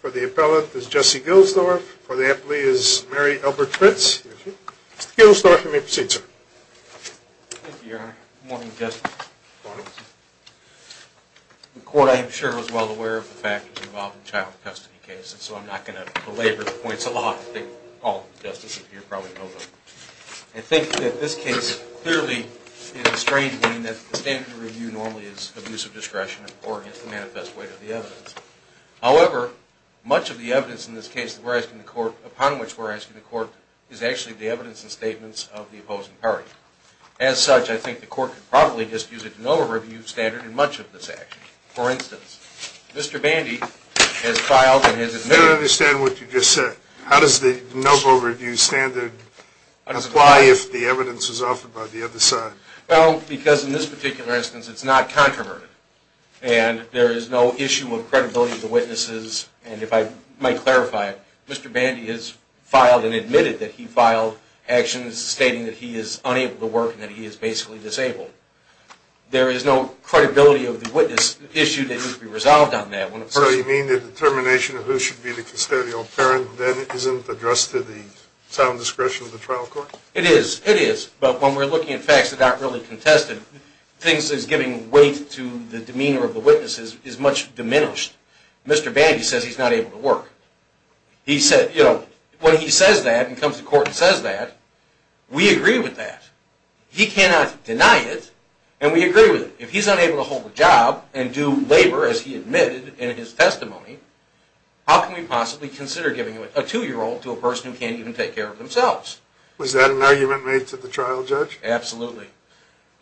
for the appellant is Jesse Gilsdorf, for the employee is Mary Elbert Fritz, Mr. Gilsdorf you may proceed sir. Thank you your honor, good morning justice. The court I am sure was well aware of the factors involved in the child custody case and so I'm not going to belabor the points of the law, I think all of the justices here probably know them. I think that this case clearly is a strange one that the standards of the law are not to be reviewed normally as abuse of discretion or against the manifest weight of the evidence. However, much of the evidence in this case upon which we're asking the court is actually the evidence and statements of the opposing party. As such I think the court could probably just use a de novo review standard in much of this action. For instance, Mr. Bandy has filed and has admitted. I don't understand what you just said. How does the de novo review standard apply if the evidence is offered by the other side? Well, because in this particular instance it's not controverted and there is no issue of credibility of the witnesses and if I might clarify, Mr. Bandy has filed and admitted that he filed actions stating that he is unable to work and that he is basically disabled. There is no credibility of the witness issue that needs to be resolved on that. So you mean the determination of who should be the custodial parent then isn't addressed to the sound discretion of the trial court? It is, it is, but when we're looking at facts that aren't really contested things as giving weight to the demeanor of the witnesses is much diminished. Mr. Bandy says he's not able to work. He said, you know, when he says that and comes to court and says that, we agree with that. He cannot deny it and we can't deny it. How can we possibly consider giving a two year old to a person who can't even take care of themselves? Was that an argument made to the trial judge? Absolutely.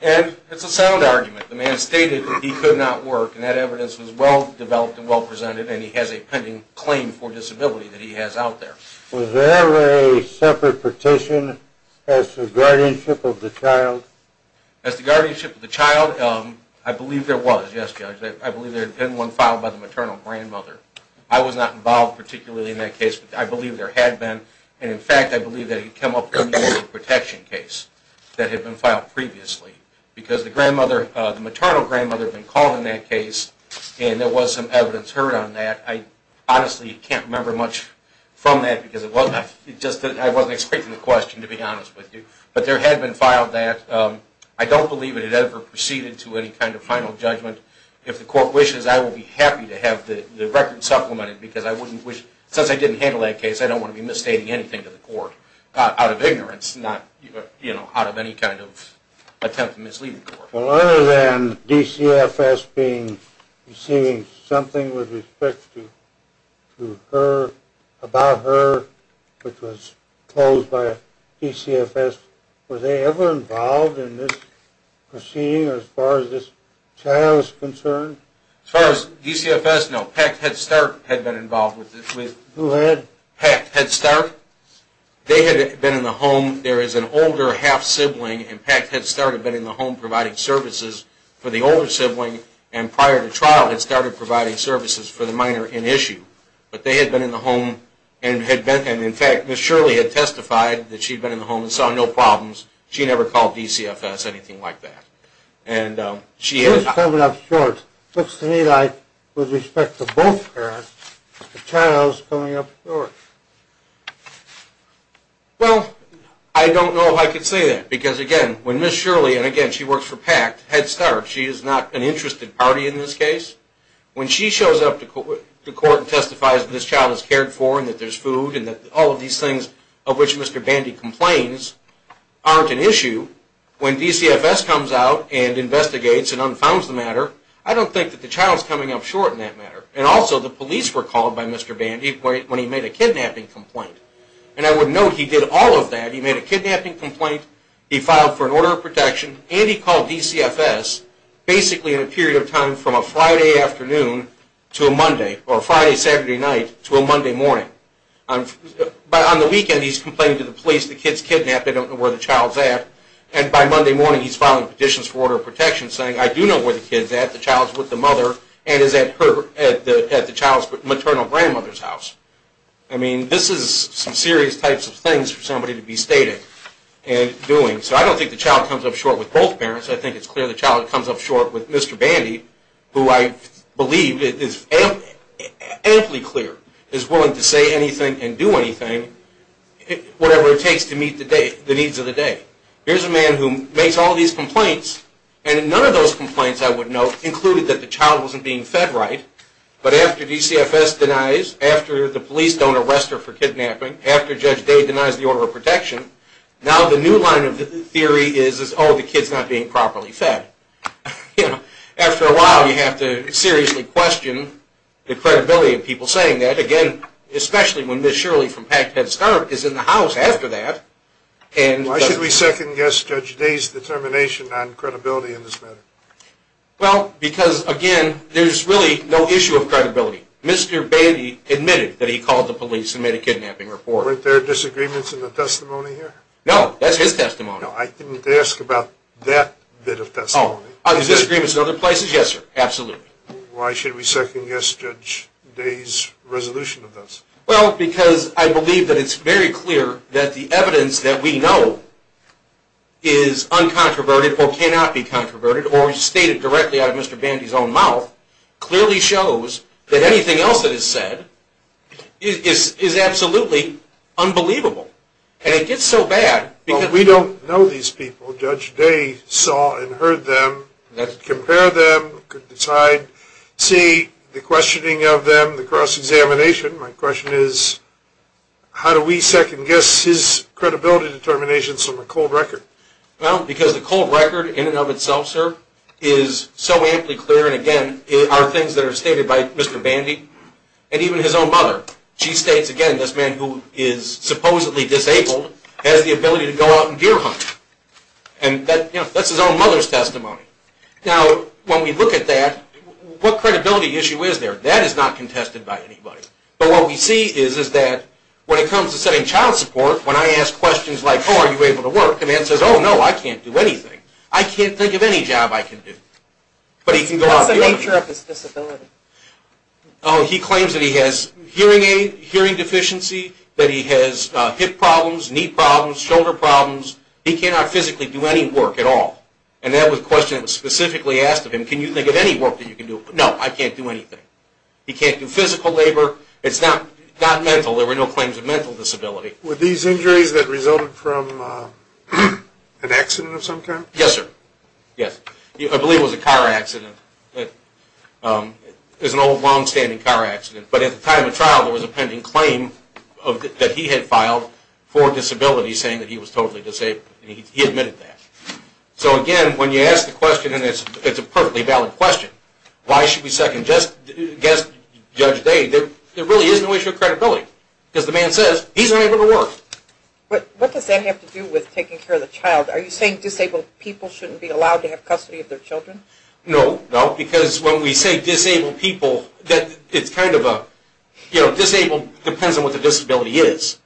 And it's a sound argument. The man stated that he could not work and that evidence was well developed and well presented and he has a pending claim for disability that he has out there. Was there a separate petition as to guardianship of the child? As to guardianship of the child? I believe there was, yes Judge. I believe there had been one filed by the maternal grandmother. I was not involved particularly in that case, but I believe there had been and in fact I believe that it came up in the protection case that had been filed previously because the maternal grandmother had been called in that case and there was some evidence heard on that. I honestly can't remember much from that because I wasn't expecting the court to proceed into any kind of final judgment. If the court wishes, I will be happy to have the record supplemented because I wouldn't wish, since I didn't handle that case, I don't want to be misstating anything to the court out of ignorance, not out of any kind of attempt to mislead the court. Other than DCFS receiving something with respect to her, about her, which was closed by DCFS as far as this child is concerned? As far as DCFS, no. PACT Head Start had been involved with this. Who had? PACT Head Start. They had been in the home, there is an older half-sibling and PACT Head Start had been in the home providing services for the older sibling and prior to trial had started providing services for the minor in issue. But they had been in the home and in fact Ms. Shirley had testified that she had been in the home and saw no problems. She never called DCFS or anything like that. She is coming up short, looks to me like, with respect to both parents, the child is coming up short. Well, I don't know if I could say that because again, when Ms. Shirley, and again she works for PACT Head Start, she is not an interested party in this case. When she shows up to court and testifies that this child is cared for and that there is food and that all of these things of which Mr. Bandy complains aren't an issue, when DCFS comes out and investigates and unfounds the matter, I don't think that the child is coming up short in that matter. And also the police were called by Mr. Bandy when he made a kidnapping complaint. And I would note he did all of that. He made a kidnapping complaint, he filed for an order of protection, and he called DCFS basically in a period of time from a Friday afternoon to a Monday, or a Friday Saturday night to a Monday morning. But on the weekend he is complaining to the police the kid is kidnapped, they don't know where the child is at, and by Monday morning he is filing petitions for order of protection saying I do know where the kid is at, the child is with the mother and is at the child's maternal grandmother's house. I mean, this is some serious types of things for somebody to be stating and doing. So I don't think the child comes up short with both parents. I think it's clear the child comes up short with Mr. Bandy, who I believe is amply clear, is willing to say anything and do anything, whatever it takes to meet the needs of the day. Here's a man who makes all these complaints, and none of those complaints, I would note, included that the child wasn't being fed right. But after DCFS denies, after the police don't arrest her for kidnapping, after Judge Day denies the order of protection, now the new line of theory is, oh, the kid's not being properly fed. After a while you have to seriously question the credibility of people saying that, again, especially when Ms. Shirley from Packed Head Start is in the house after that. Why should we second Judge Day's determination on credibility in this matter? Well, because, again, there's really no issue of credibility. Mr. Bandy admitted that he called the police and made a kidnapping report. Were there disagreements in the testimony here? No, that's his testimony. I didn't ask about that bit of testimony. Are there disagreements in other places? Yes, sir. Absolutely. Why should we second Judge Day's resolution of this? Well, because I believe that it's very clear that the evidence that we know is uncontroverted or cannot be controverted or stated directly out of Mr. Bandy's own mouth clearly shows that anything else that is said is absolutely unbelievable. And it gets so bad because we don't know these people. Judge Day saw and heard them, compared them, could decide, see the questioning of them, the cross-examination. My question is, how do we second guess his credibility determinations from a cold record? Well, because the cold record in and of itself, sir, is so amply clear and, again, are things that are stated by Mr. Bandy and even his own mother. She states, again, this man who is supposedly disabled has the ability to go out and deer hunt. And that's his own mother's Now, when we look at that, what credibility issue is there? That is not contested by anybody. But what we see is that when it comes to setting child support, when I ask questions like, oh, are you able to work, the man says, oh, no, I can't do anything. I can't think of any job I can do. What's the nature of his disability? Oh, he claims that he has hearing aid, hearing deficiency, that he has hip problems, knee problems, shoulder problems. He cannot physically do any work at all. And that was a question that was specifically asked of him. Can you think of any work that you can do? No, I can't do anything. He can't do physical labor. It's not mental. There were no claims of mental disability. Were these injuries that resulted from an accident of some kind? Yes, sir. Yes. I believe it was a car accident. It was an old, long-standing car accident. But at the time of trial, there was a pending claim that he had filed for disability, saying that he was totally disabled. He admitted that. So again, when you ask the question, and it's a perfectly valid question, why should we second-guess Judge Day, there really is no issue of credibility. Because the man says, he's unable to work. What does that have to do with taking care of the child? Are you saying disabled people shouldn't be allowed to have custody of their children? No. No. Because when we say disabled people, that it's kind of a, you know, disabled depends on what the disability is.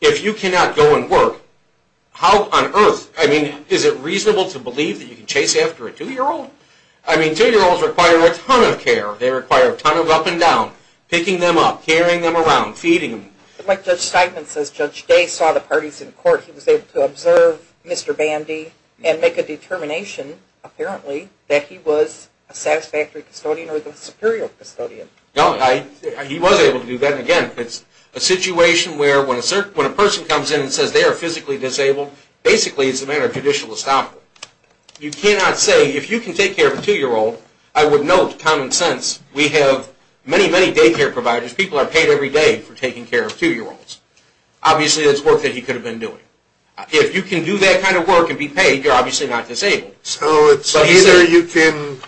If you cannot go and work, how on earth, I mean, is it reasonable to believe that you can chase after a two-year-old? I mean, two-year-olds require a ton of care. They require a ton of up and down. Picking them up, carrying them around, feeding them. Like Judge Steinman says, Judge Day saw the parties in court. He was able to observe Mr. Bandy and make a determination, apparently, that he was a satisfactory custodian or the superior custodian. He was able to do that. And again, it's a situation where when a person comes in and says they are physically disabled, basically it's a matter of judicial estoppel. You cannot say, if you can take care of a two-year-old, I would note common sense. We have many, many daycare workers. If you can do that kind of work and be paid, you're obviously not disabled. So it's either you can,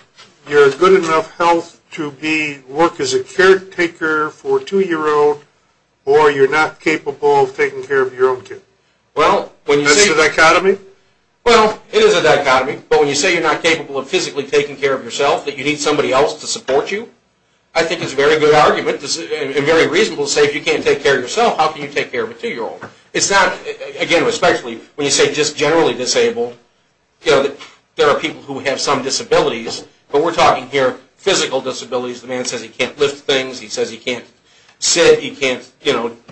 you're good enough health to be, work as a caretaker for a two-year-old, or you're not capable of taking care of your own kid. Well, when you say... Is this a dichotomy? Well, it is a dichotomy. But when you say you're not capable of physically taking care of yourself, that you need somebody else to support you, I think it's a very good example, especially when you say just generally disabled. There are people who have some disabilities, but we're talking here physical disabilities. The man says he can't lift things. He says he can't sit. He can't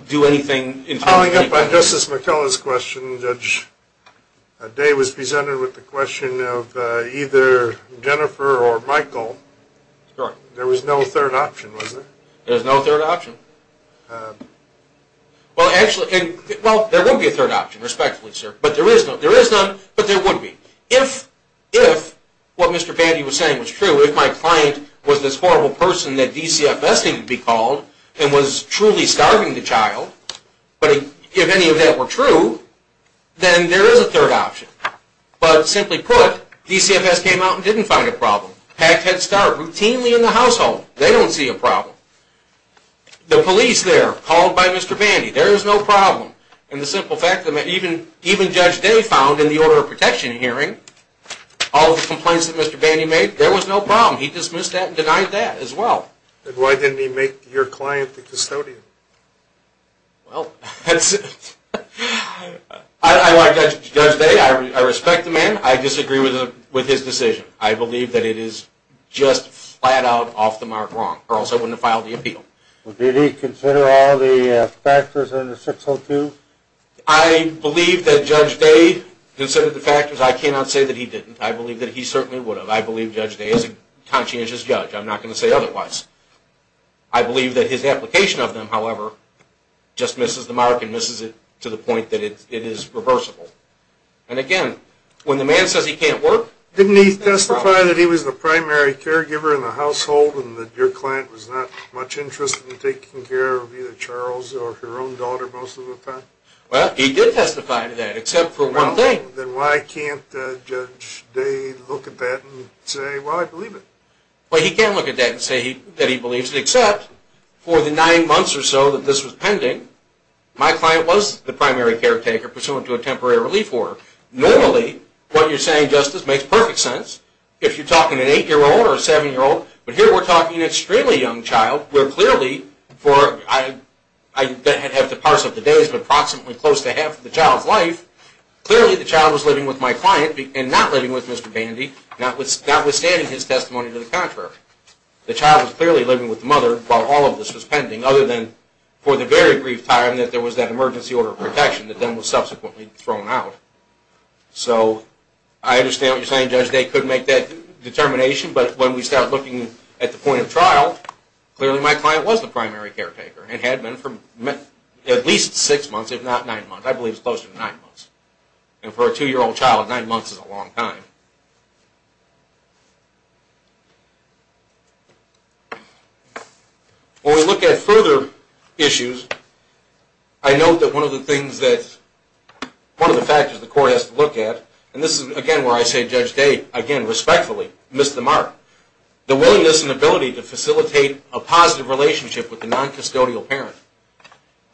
do anything. Following up on Justice McKellar's question, Judge Day was presented with the question of either Jennifer or Michael. There was no third option, was there? There was no third option. Well, actually... Well, there would be a third option, respectfully, sir. But there is none, but there would be. If what Mr. Batty was saying was true, if my client was this horrible person that DCFS needed to be called and was truly starving the child, but if any of that were true, then there is a third option. But simply put, DCFS came out and didn't find a problem. Packed Head Start, routinely in the household, they don't see a problem. The police there, called by Mr. Batty, there is no problem. And the simple fact that even Judge Day found in the order of protection hearing, all of the complaints that Mr. Batty made, there was no problem. He dismissed that and denied that as well. And why didn't he make your client the custodian? Well, that's... I like Judge Day. I respect the man. I disagree with his decision. I believe that it is just flat out off the mark wrong. Or else I wouldn't have filed the appeal. Did he consider all the factors under 602? I believe that Judge Day considered the factors. I cannot say that he didn't. I believe that he certainly would have. I believe Judge Day is a conscientious judge. I'm not going to say otherwise. I believe that his application of them, however, just misses the mark and misses it to the point that it is reversible. And again, when the man says he can't work... Didn't he testify that he was the primary caregiver in the household and that your client was not much interested in taking care of either Charles or her own daughter most of the time? Well, he did testify to that, except for one thing. Then why can't Judge Day look at that and say, well, I believe it? Well, he can look at that and say that he believes it, except for the nine months or so that this was pending, my client was the primary caretaker pursuant to a temporary relief order. Normally, what you're saying, Justice, makes perfect sense if you're talking an 8-year-old or a 7-year-old. But here we're talking an extremely young child where clearly for... I'd have to parse up the days, but approximately close to half the child's life, clearly the child was living with my client and not living with Mr. Pandy, notwithstanding his testimony to the contrary. The child was clearly living with the mother while all of this was pending, other than for the very brief time that there was that emergency order of protection that then was subsequently thrown out. So I understand what you're saying, Judge Day, couldn't make that determination, but when we start looking at the point of trial, clearly my client was the primary caretaker and had been for at least 6 months, if not 9 months. I believe it's closer to 9 months. And for a 2-year-old child, 9 months is a long time. When we look at further issues, I note that one of the things that... one of the factors the court has to look at, and this is again where I say Judge Day, again,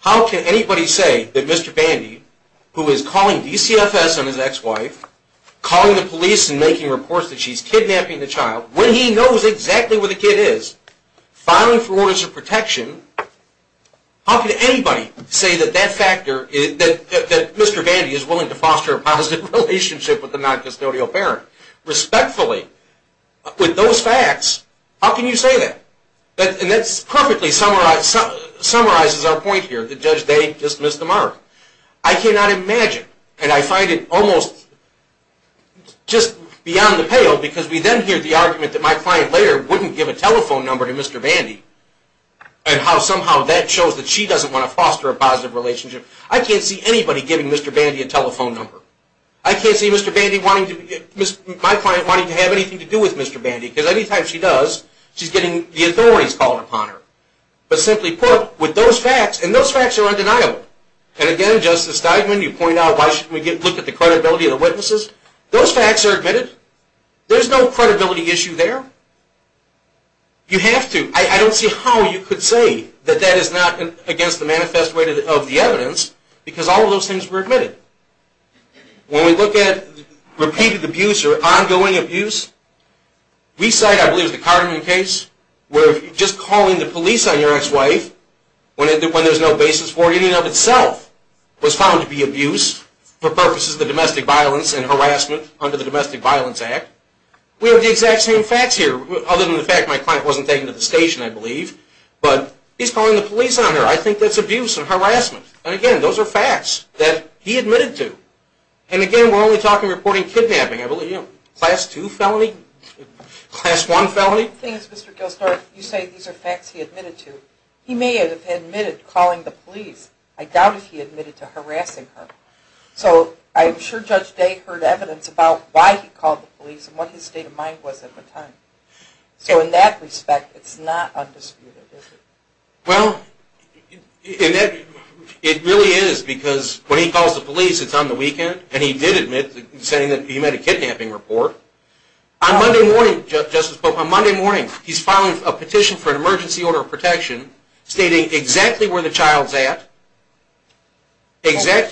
how can anybody say that Mr. Pandy, who is calling DCFS on his ex-wife, calling the police and making reports that she's kidnapping the child, when he knows exactly where the kid is, filing for orders of protection, how can anybody say that Mr. Pandy is willing to foster a positive relationship with the non-custodial parent? Respectfully, with those facts, how can you say that? And that's perfectly summarizes our point here, that Judge Day dismissed the mark. I cannot imagine, and I find it almost just beyond the pale, because we then hear the argument that my client later wouldn't give a telephone number to Mr. Pandy, and how somehow that shows that she doesn't want to foster a positive relationship. I can't see anybody giving Mr. Pandy a telephone number. I can't see my client wanting to have anything to do with Mr. Pandy, because any time she does, she's getting the authorities called upon her. But simply put, with those facts, and those facts are undeniable, and again, Justice Steigman, you point out, why shouldn't we look at the credibility of the witnesses? Those facts are admitted. There's no credibility issue there. You have to. I don't see how you could say that that is not against the manifest way of the evidence, because all of those things were found to be abuse. We cite, I believe, the Carterman case, where just calling the police on your ex-wife, when there's no basis for it in and of itself, was found to be abuse for purposes of the domestic violence and harassment under the Domestic Violence Act. We have the exact same facts here, other than the fact that my client wasn't taken to the station, I believe. But he's calling the police on her. I think that's abuse and harassment. And again, those are facts that he admitted to. And again, we're only talking about reporting kidnapping, I believe. Class 2 felony? Class 1 felony? He may have admitted calling the police. I doubt if he admitted to harassing her. So I'm sure Judge Day heard evidence about why he called the police and what his state of mind was at the time. So in that respect, it's not undisputed, is it? Well, it really is. Because when he calls the police, it's on the weekend. And he did admit saying that he made a kidnapping report. On Monday morning, Justice Pope, he's filing a petition for an emergency order of protection stating exactly where the child's at. Within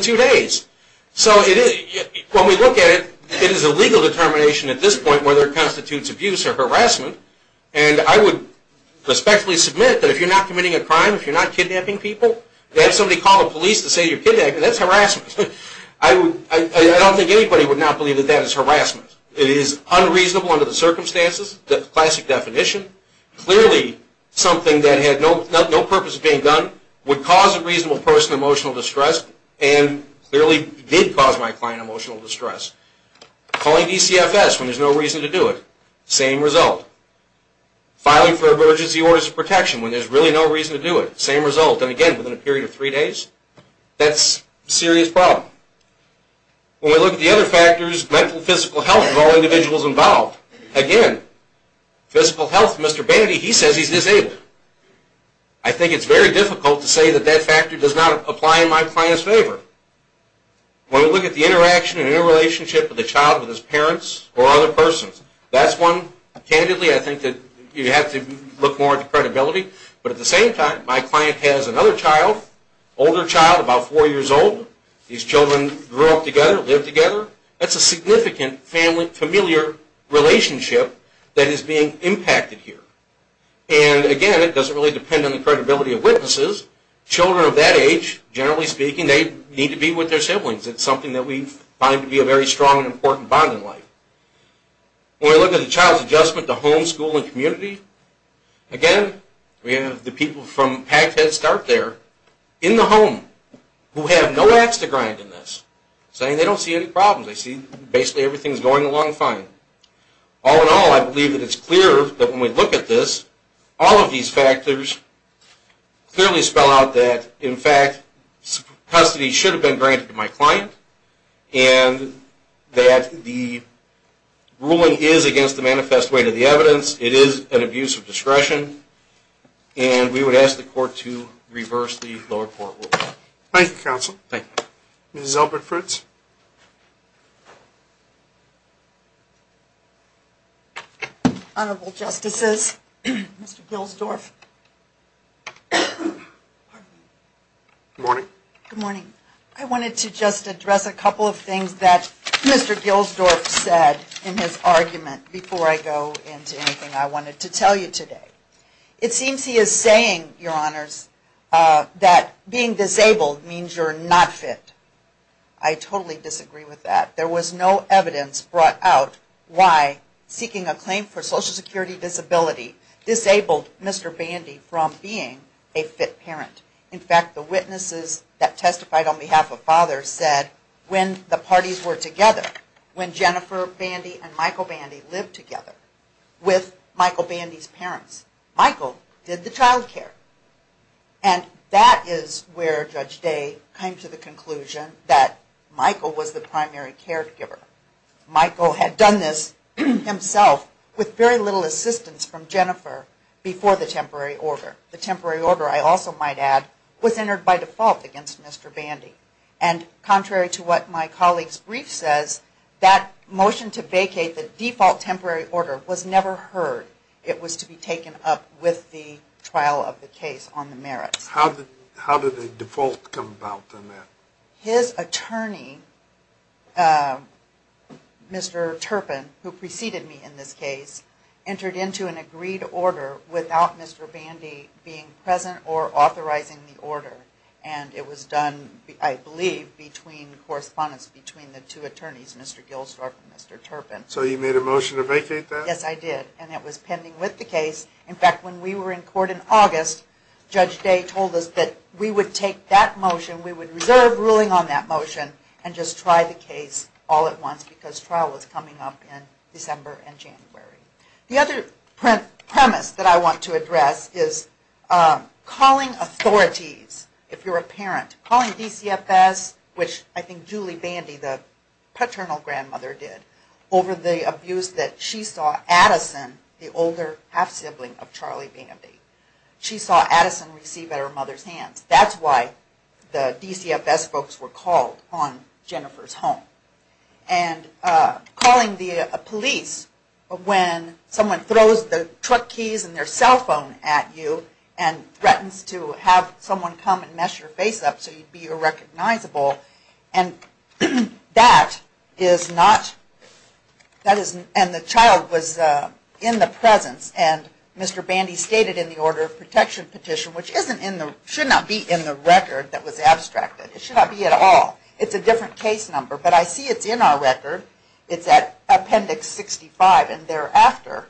two days. So when we look at it, it is a legal determination at this point whether it constitutes abuse or harassment. And I would respectfully submit that if you're not committing a crime, if you're not kidnapping people, to have somebody call the police to say you're kidnapping, that's harassment. I don't think anybody would not believe that that is harassment. It is unreasonable under the circumstances, the classic definition. Clearly, something that had no purpose being done would cause a reasonable person emotional distress and clearly did cause my client emotional distress. Calling DCFS when there's no reason to do it, same result. Filing for emergency orders of protection when there's really no reason to do it, same result. And again, within a period of three days, that's a serious problem. When we look at the other factors, mental and physical health of all individuals involved, again, physical health, Mr. Bannaty, he says he's disabled. I think it's very difficult to say that that factor does not apply in my client's favor. When we look at the interaction and interrelationship of the child with his parents or other persons, that's one candidly I think that you have to look more at the credibility. But at the same time, my client has another child, older child, about four years old. These children grew up together, live together. That's a significant familiar relationship that is being impacted here. And again, it doesn't really depend on the credibility of witnesses. Children of that age, generally speaking, they need to be with their siblings. It's something that we find to be a very strong and important bond in life. When we look at the child's adjustment to home, school, and community, again, we have the people from PACT that start there in the home who have no axe to grind in this, saying they don't see any problems. They see basically everything's going along fine. All in all, I believe that it's clear that when we look at this, all of these factors clearly spell out that, in fact, custody should have been granted to my client and that the ruling is against the manifest way to the evidence. It is an abuse of discretion, and we would ask the court to reverse the lower court ruling. Thank you, Counsel. Thank you. Ms. Elbert-Fritz. Honorable Justices, Mr. Gilsdorf. Good morning. Good morning. I wanted to just address a couple of things that I wanted to tell you today. It seems he is saying, Your Honors, that being disabled means you're not fit. I totally disagree with that. There was no evidence brought out why seeking a claim for Social Security Disability disabled Mr. Bandy from being a fit parent. In fact, the witnesses that testified on behalf of fathers said when the parties were together with Michael Bandy's parents, Michael did the child care. And that is where Judge Day came to the conclusion that Michael was the primary caregiver. Michael had done this himself with very little assistance from Jennifer before the temporary order. The temporary order, I also might add, was entered by default against Mr. Bandy. And contrary to what my colleague's brief says, that motion to vacate the default temporary order was never heard. It was to be taken up with the trial of the case on the merits. How did the default come about on that? His attorney, Mr. Turpin, who preceded me in this case, entered into an agreed order without Mr. Bandy being present or authorizing the order. And it was done, I believe, between correspondents between the two attorneys, Mr. Gilstorf and Mr. Turpin. So you made a motion to vacate that? Yes, I did. And it was pending with the case. In fact, when we were in court in August, Judge Day told us that we would take that motion, we would reserve ruling on that motion, and just try the case all at once because trial was coming up in December and January. The other premise that I want to address is calling authorities, if you're a parent, calling DCFS, which I think Julie Bandy, the paternal grandmother, did, over the abuse that she saw Addison, the older half-sibling of Charlie Bandy, she saw Addison receive at her mother's hands. That's why the DCFS folks were called on when someone throws the truck keys and their cell phone at you and threatens to have someone come and mess your face up so you'd be irrecognizable. And the child was in the presence. And Mr. Bandy stated in the order of protection petition, which should not be in the record that was abstracted. It should not be at all. It's a different case number. But I see it's in our record. It's at Appendix 65. And thereafter,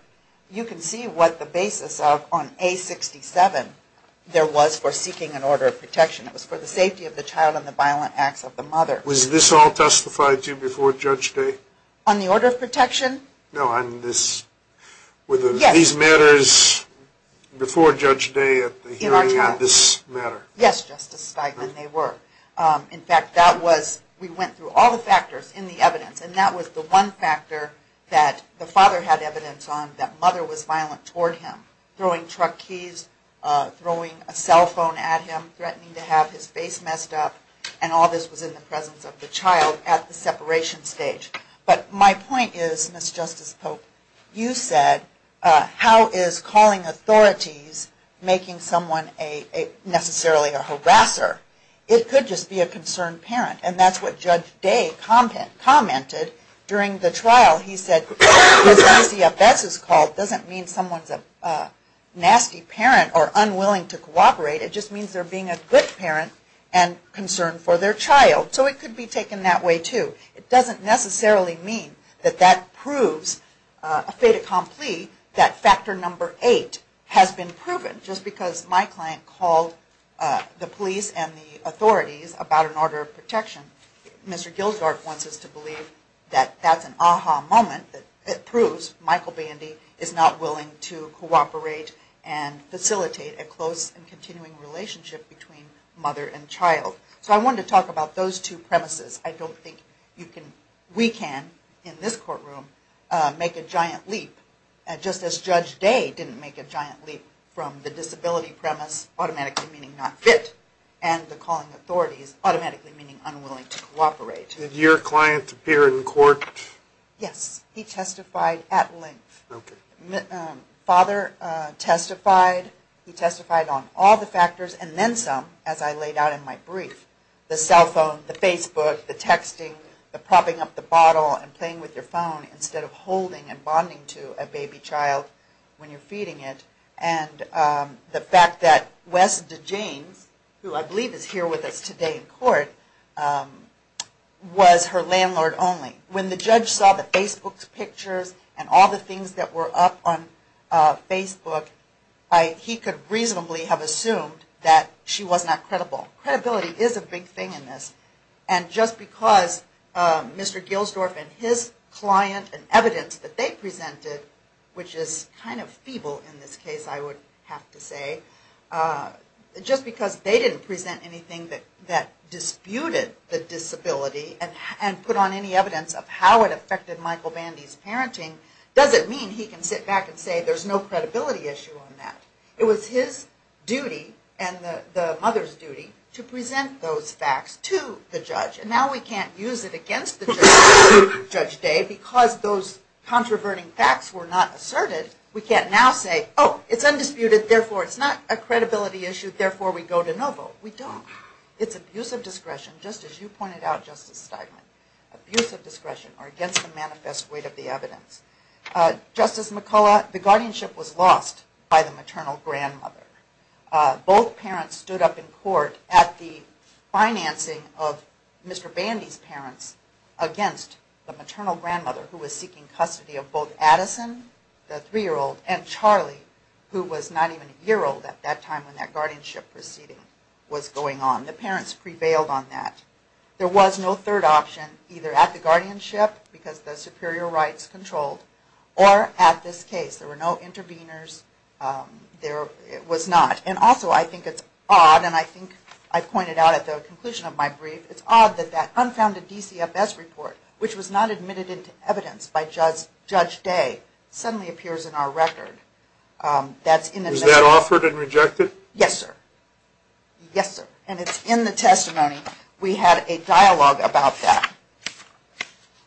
you can see what the basis of on A67 there was for seeking an order of protection. It was for the safety of the child and the violent acts of the mother. Was this all testified to before Judge Day? On the order of protection? No, on this. Were these matters before Judge Day at the hearing on this matter? Yes, Justice Steigman, they were. In fact, we went through all the factors in the evidence. And that was the one factor that the father had evidence on that mother was violent toward him. Throwing truck keys, throwing a cell phone at him, threatening to have his face messed up. And all this was in the presence of the child at the separation stage. But my point is, Ms. Justice Pope, you said how is calling authorities making someone necessarily a harasser? It could just be a concerned parent. And that's what Judge Day commented during the trial. He said, as long as the F.S. is called, it doesn't mean someone is a nasty parent or unwilling to cooperate. It just means they are being a good parent and concerned for their child. So it could be taken that way too. It doesn't necessarily mean that that proves a fait accompli that factor number eight has been proven just because my client called the police and the authorities about an order of protection. Mr. Gildard wants us to believe that that's an aha moment that proves Michael Bandy is not willing to cooperate and facilitate a close and continuing relationship between mother and child. So I wanted to talk about those two premises. I don't think we can, in this courtroom, make a giant leap, just as Judge Day didn't make a giant leap from the disability premise automatically meaning not fit and the calling authorities automatically meaning unwilling to cooperate. Did your client appear in court? Yes. He testified at length. Father testified. He testified on all the factors and then some as I laid out in my brief. The cell phone, the Facebook, the texting, the propping up the bottle and playing with your phone instead of holding and bonding to a baby child when you're feeding it. And the fact that Wes DeJanes, who I believe is here with us today in court, was her landlord only. When the judge saw the Facebook pictures and all the things that were up on Facebook, he could reasonably have assumed that she was not credible. Credibility is a big thing in this. And just because Mr. Gilsdorf and his client and evidence that they presented, which is kind of feeble in this case I would have to say, just because they didn't present anything that disputed the disability and put on any evidence of how it affected Michael Bandy's parenting doesn't mean he can sit back and say there's no credibility issue on that. It was his duty and the mother's duty to present those facts to the judge. And now we can't use it against Judge Day because those controverting facts were not asserted. We can't now say, oh, it's undisputed, therefore it's not a credibility issue, therefore we go to no vote. We don't. It's abuse of discretion, just as you pointed out, Justice Steigman. Abuse of discretion or against the manifest weight of the evidence. Justice McCullough, the guardianship was lost by the maternal grandmother. Both parents stood up in court at the financing of Mr. Bandy's parents against the maternal grandmother who was seeking custody of both Addison, the three-year-old, and Charlie, who was not even a year old at that time when that guardianship proceeding was going on. The parents prevailed on that. There was no third option either at the guardianship, because the superior rights controlled, or at this case. There were no interveners. There was not. And also I think it's the conclusion of my brief, it's odd that that unfounded DCFS report, which was not admitted into evidence by Judge Day, suddenly appears in our record. Was that authored and rejected? Yes, sir. Yes, sir. And it's in the testimony. We had a dialogue about that.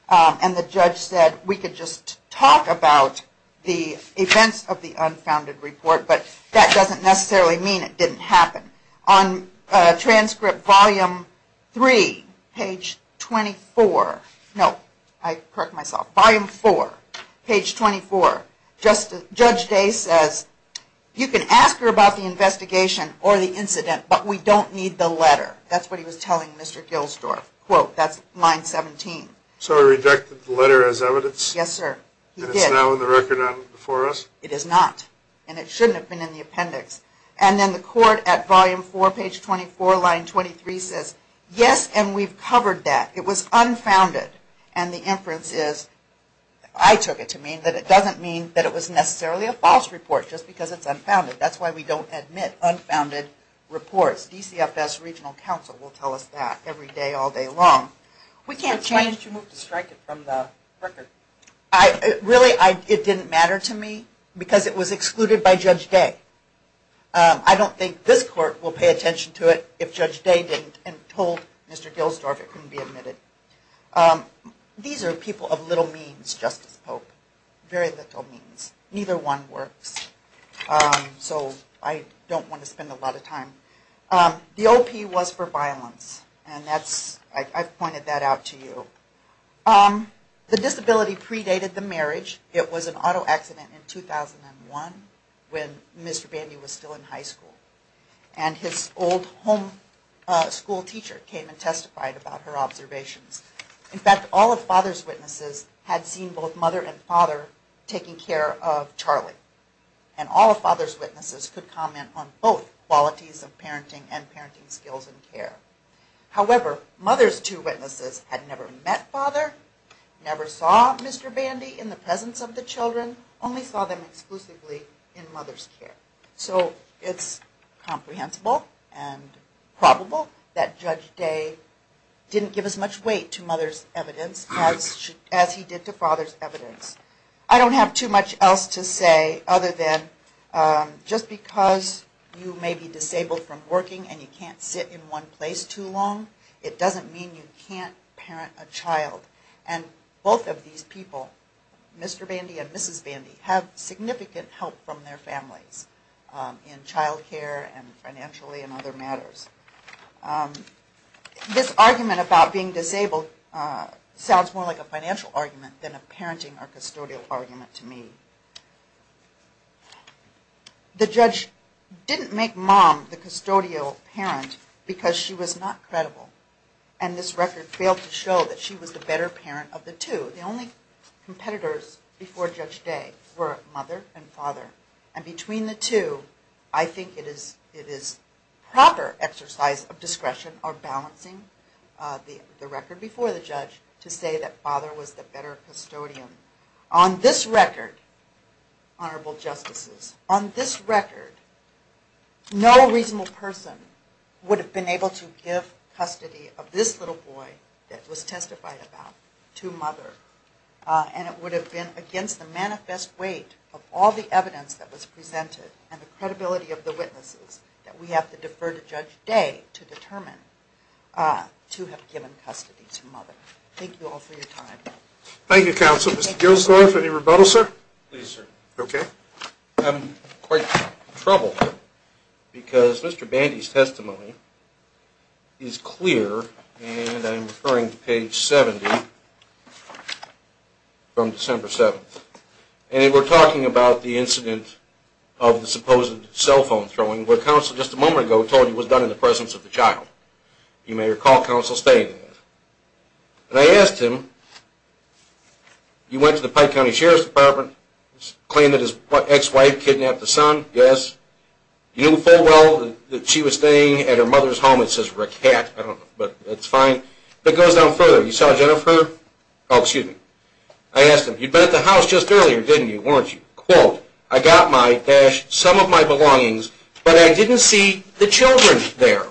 And the judge said we could just talk about the events of the unfounded report, but that doesn't necessarily mean it didn't happen. On transcript volume 3, page 24, no, I correct myself, volume 4, page 24, Judge Day says you can ask her about the investigation or the incident, but we don't need the letter. That's what he was telling Mr. Gilsdorf. Quote, that's line 17. So he rejected the letter as it should have been in the appendix. And then the court at volume 4, page 24, line 23 says yes, and we've covered that. It was unfounded. And the inference is I took it to mean that it doesn't mean that it was necessarily a false report, just because it's unfounded. That's why we don't admit unfounded reports. DCFS regional council will tell us that every day, all day long. Why didn't you move to strike it from the record? Really, it didn't matter to me, because it was excluded by Judge Day. I don't think this court will pay attention to it if Judge Day didn't and told Mr. Gilsdorf it couldn't be admitted. These are people of little means, Justice Pope. Very little means. Neither one works. So I don't want to spend a lot of time. The OP was for violence. I've pointed that out to you. The disability predated the marriage. It was an auto accident in 2001 when Mr. Bandy was still in high school. And his old home school teacher came and testified about her observations. In fact, all of father's witnesses had seen both mother and father taking care of Charlie. And all of father's witnesses could comment on both qualities of parenting and parenting skills and care. However, mother's two witnesses had never met father, never saw Mr. Bandy in the presence of the children, only saw them exclusively in mother's care. So it's comprehensible and probable that Judge Day didn't give as much weight to mother's evidence as he did to father's evidence. I don't have too much else to say other than just because you may be disabled from working and you can't sit in one place too long, it doesn't mean you can't parent a child. And both of these people, Mr. Bandy and Mrs. Bandy, have significant help from their families in child care and financially in other matters. This argument about being disabled sounds more like a lie. The judge didn't make mom the custodial parent because she was not credible. And this record failed to show that she was the better parent of the two. The only competitors before Judge Day were mother and father. And between the two, I think it is proper exercise of discretion or balancing the record before the judge to say that father was the better custodian. On this record, honorable justices, on this record, no reasonable person would have been able to give custody of this little boy that was testified about to mother. And it would have been against the manifest weight of all the evidence that was presented and the credibility of the witnesses that we have to defer to Judge Day to determine to have given custody to mother. Thank you all for your time. Thank you, counsel. Mr. Gilsdorf, any rebuttal, sir? I'm in quite trouble because Mr. Bandy's testimony is clear and I'm referring to page 70 from December 7th. And we're talking about the incident of the supposed cell phone throwing where counsel just a moment ago told me that this was done in the presence of the child. You may recall counsel stating that. And I asked him, you went to the Pike County Sheriff's Department, claimed that his ex-wife kidnapped the son, yes. You know full well that she was staying at her mother's home, it says Rackett, I don't know, but that's fine. But it goes down further. You saw Jennifer, oh there.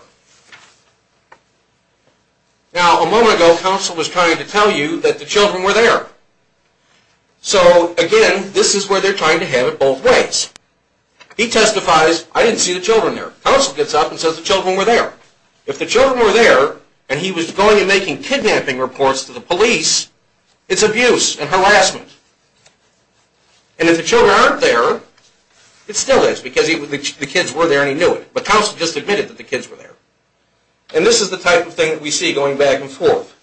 Now a moment ago, counsel was trying to tell you that the children were there. So again, this is where they're trying to have it both ways. He testifies, I didn't see the children there. Counsel gets up and says the children were there. If the children were there and he was going and making kidnapping reports to the police, it's abuse and harassment. And if the children were there, it's abuse and harassment. And this is the type of thing that we see going back and forth.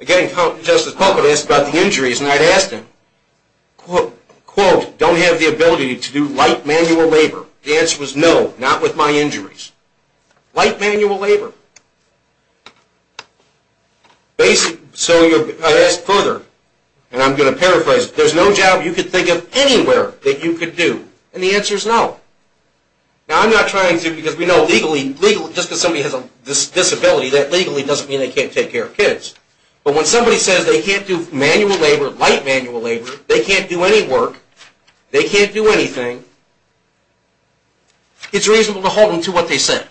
Again, Justice Puckett asked about the injuries and I asked him, quote, don't have the ability to do light manual labor. The answer was no, not with my injuries. Light manual labor. Basic, so I asked further, and I'm going to paraphrase, there's no job you could do. And the answer is no. Now I'm not trying to, because we know legally, just because somebody has a disability, that legally doesn't mean they can't take care of kids. But when somebody says they can't do manual labor, light manual labor, they can't do any work, they can't do anything, it's reasonable to hold them to what they said.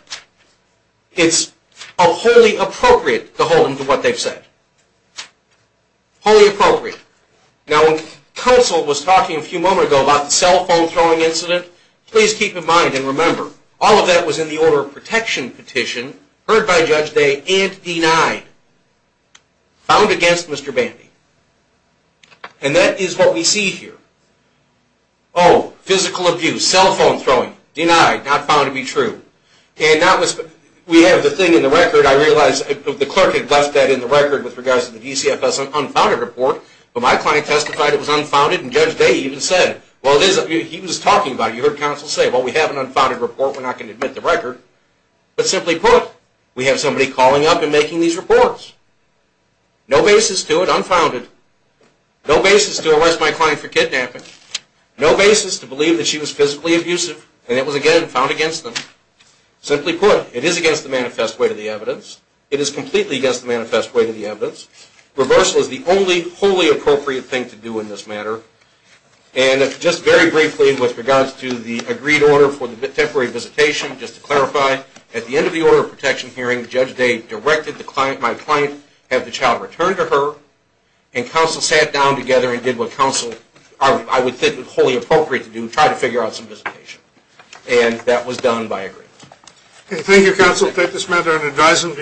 It's wholly appropriate to hold them to what they've said. Wholly appropriate. Now when counsel was talking a few moments ago about the cell phone throwing incident, please keep in mind and remember, all of that was in the order of protection petition, heard by Judge Day, and denied. Found against Mr. Bandy. And that is what we see here. Oh, physical abuse, cell phone throwing, denied, not found to be true. And that was, we have the thing in the record, I realize the clerk had left that in the record with regards to the DCFS unfounded report, but my client testified it was unfounded and Judge Day even said, well he was talking about it, you heard counsel say, well we have an unfounded report, we're not going to admit the record. But simply put, we have somebody calling up and making these reports. No basis to it, unfounded. No basis to arrest my client for kidnapping. No basis to believe that she was physically abusive, and it was again, found against them. Simply put, it is against the manifest weight of the evidence. It is completely against the manifest weight of the evidence. Reversal is the only wholly appropriate thing to do in this matter. And just very briefly with regards to the agreed order for the temporary visitation, just to clarify, at the end of the order of protection hearing, Judge Day directed my client have the child returned to her, and counsel sat down together and did what counsel, I would think would be wholly appropriate to do, try to figure out some visitation. And that was done by agreement. Thank you counsel, take this matter under advisement.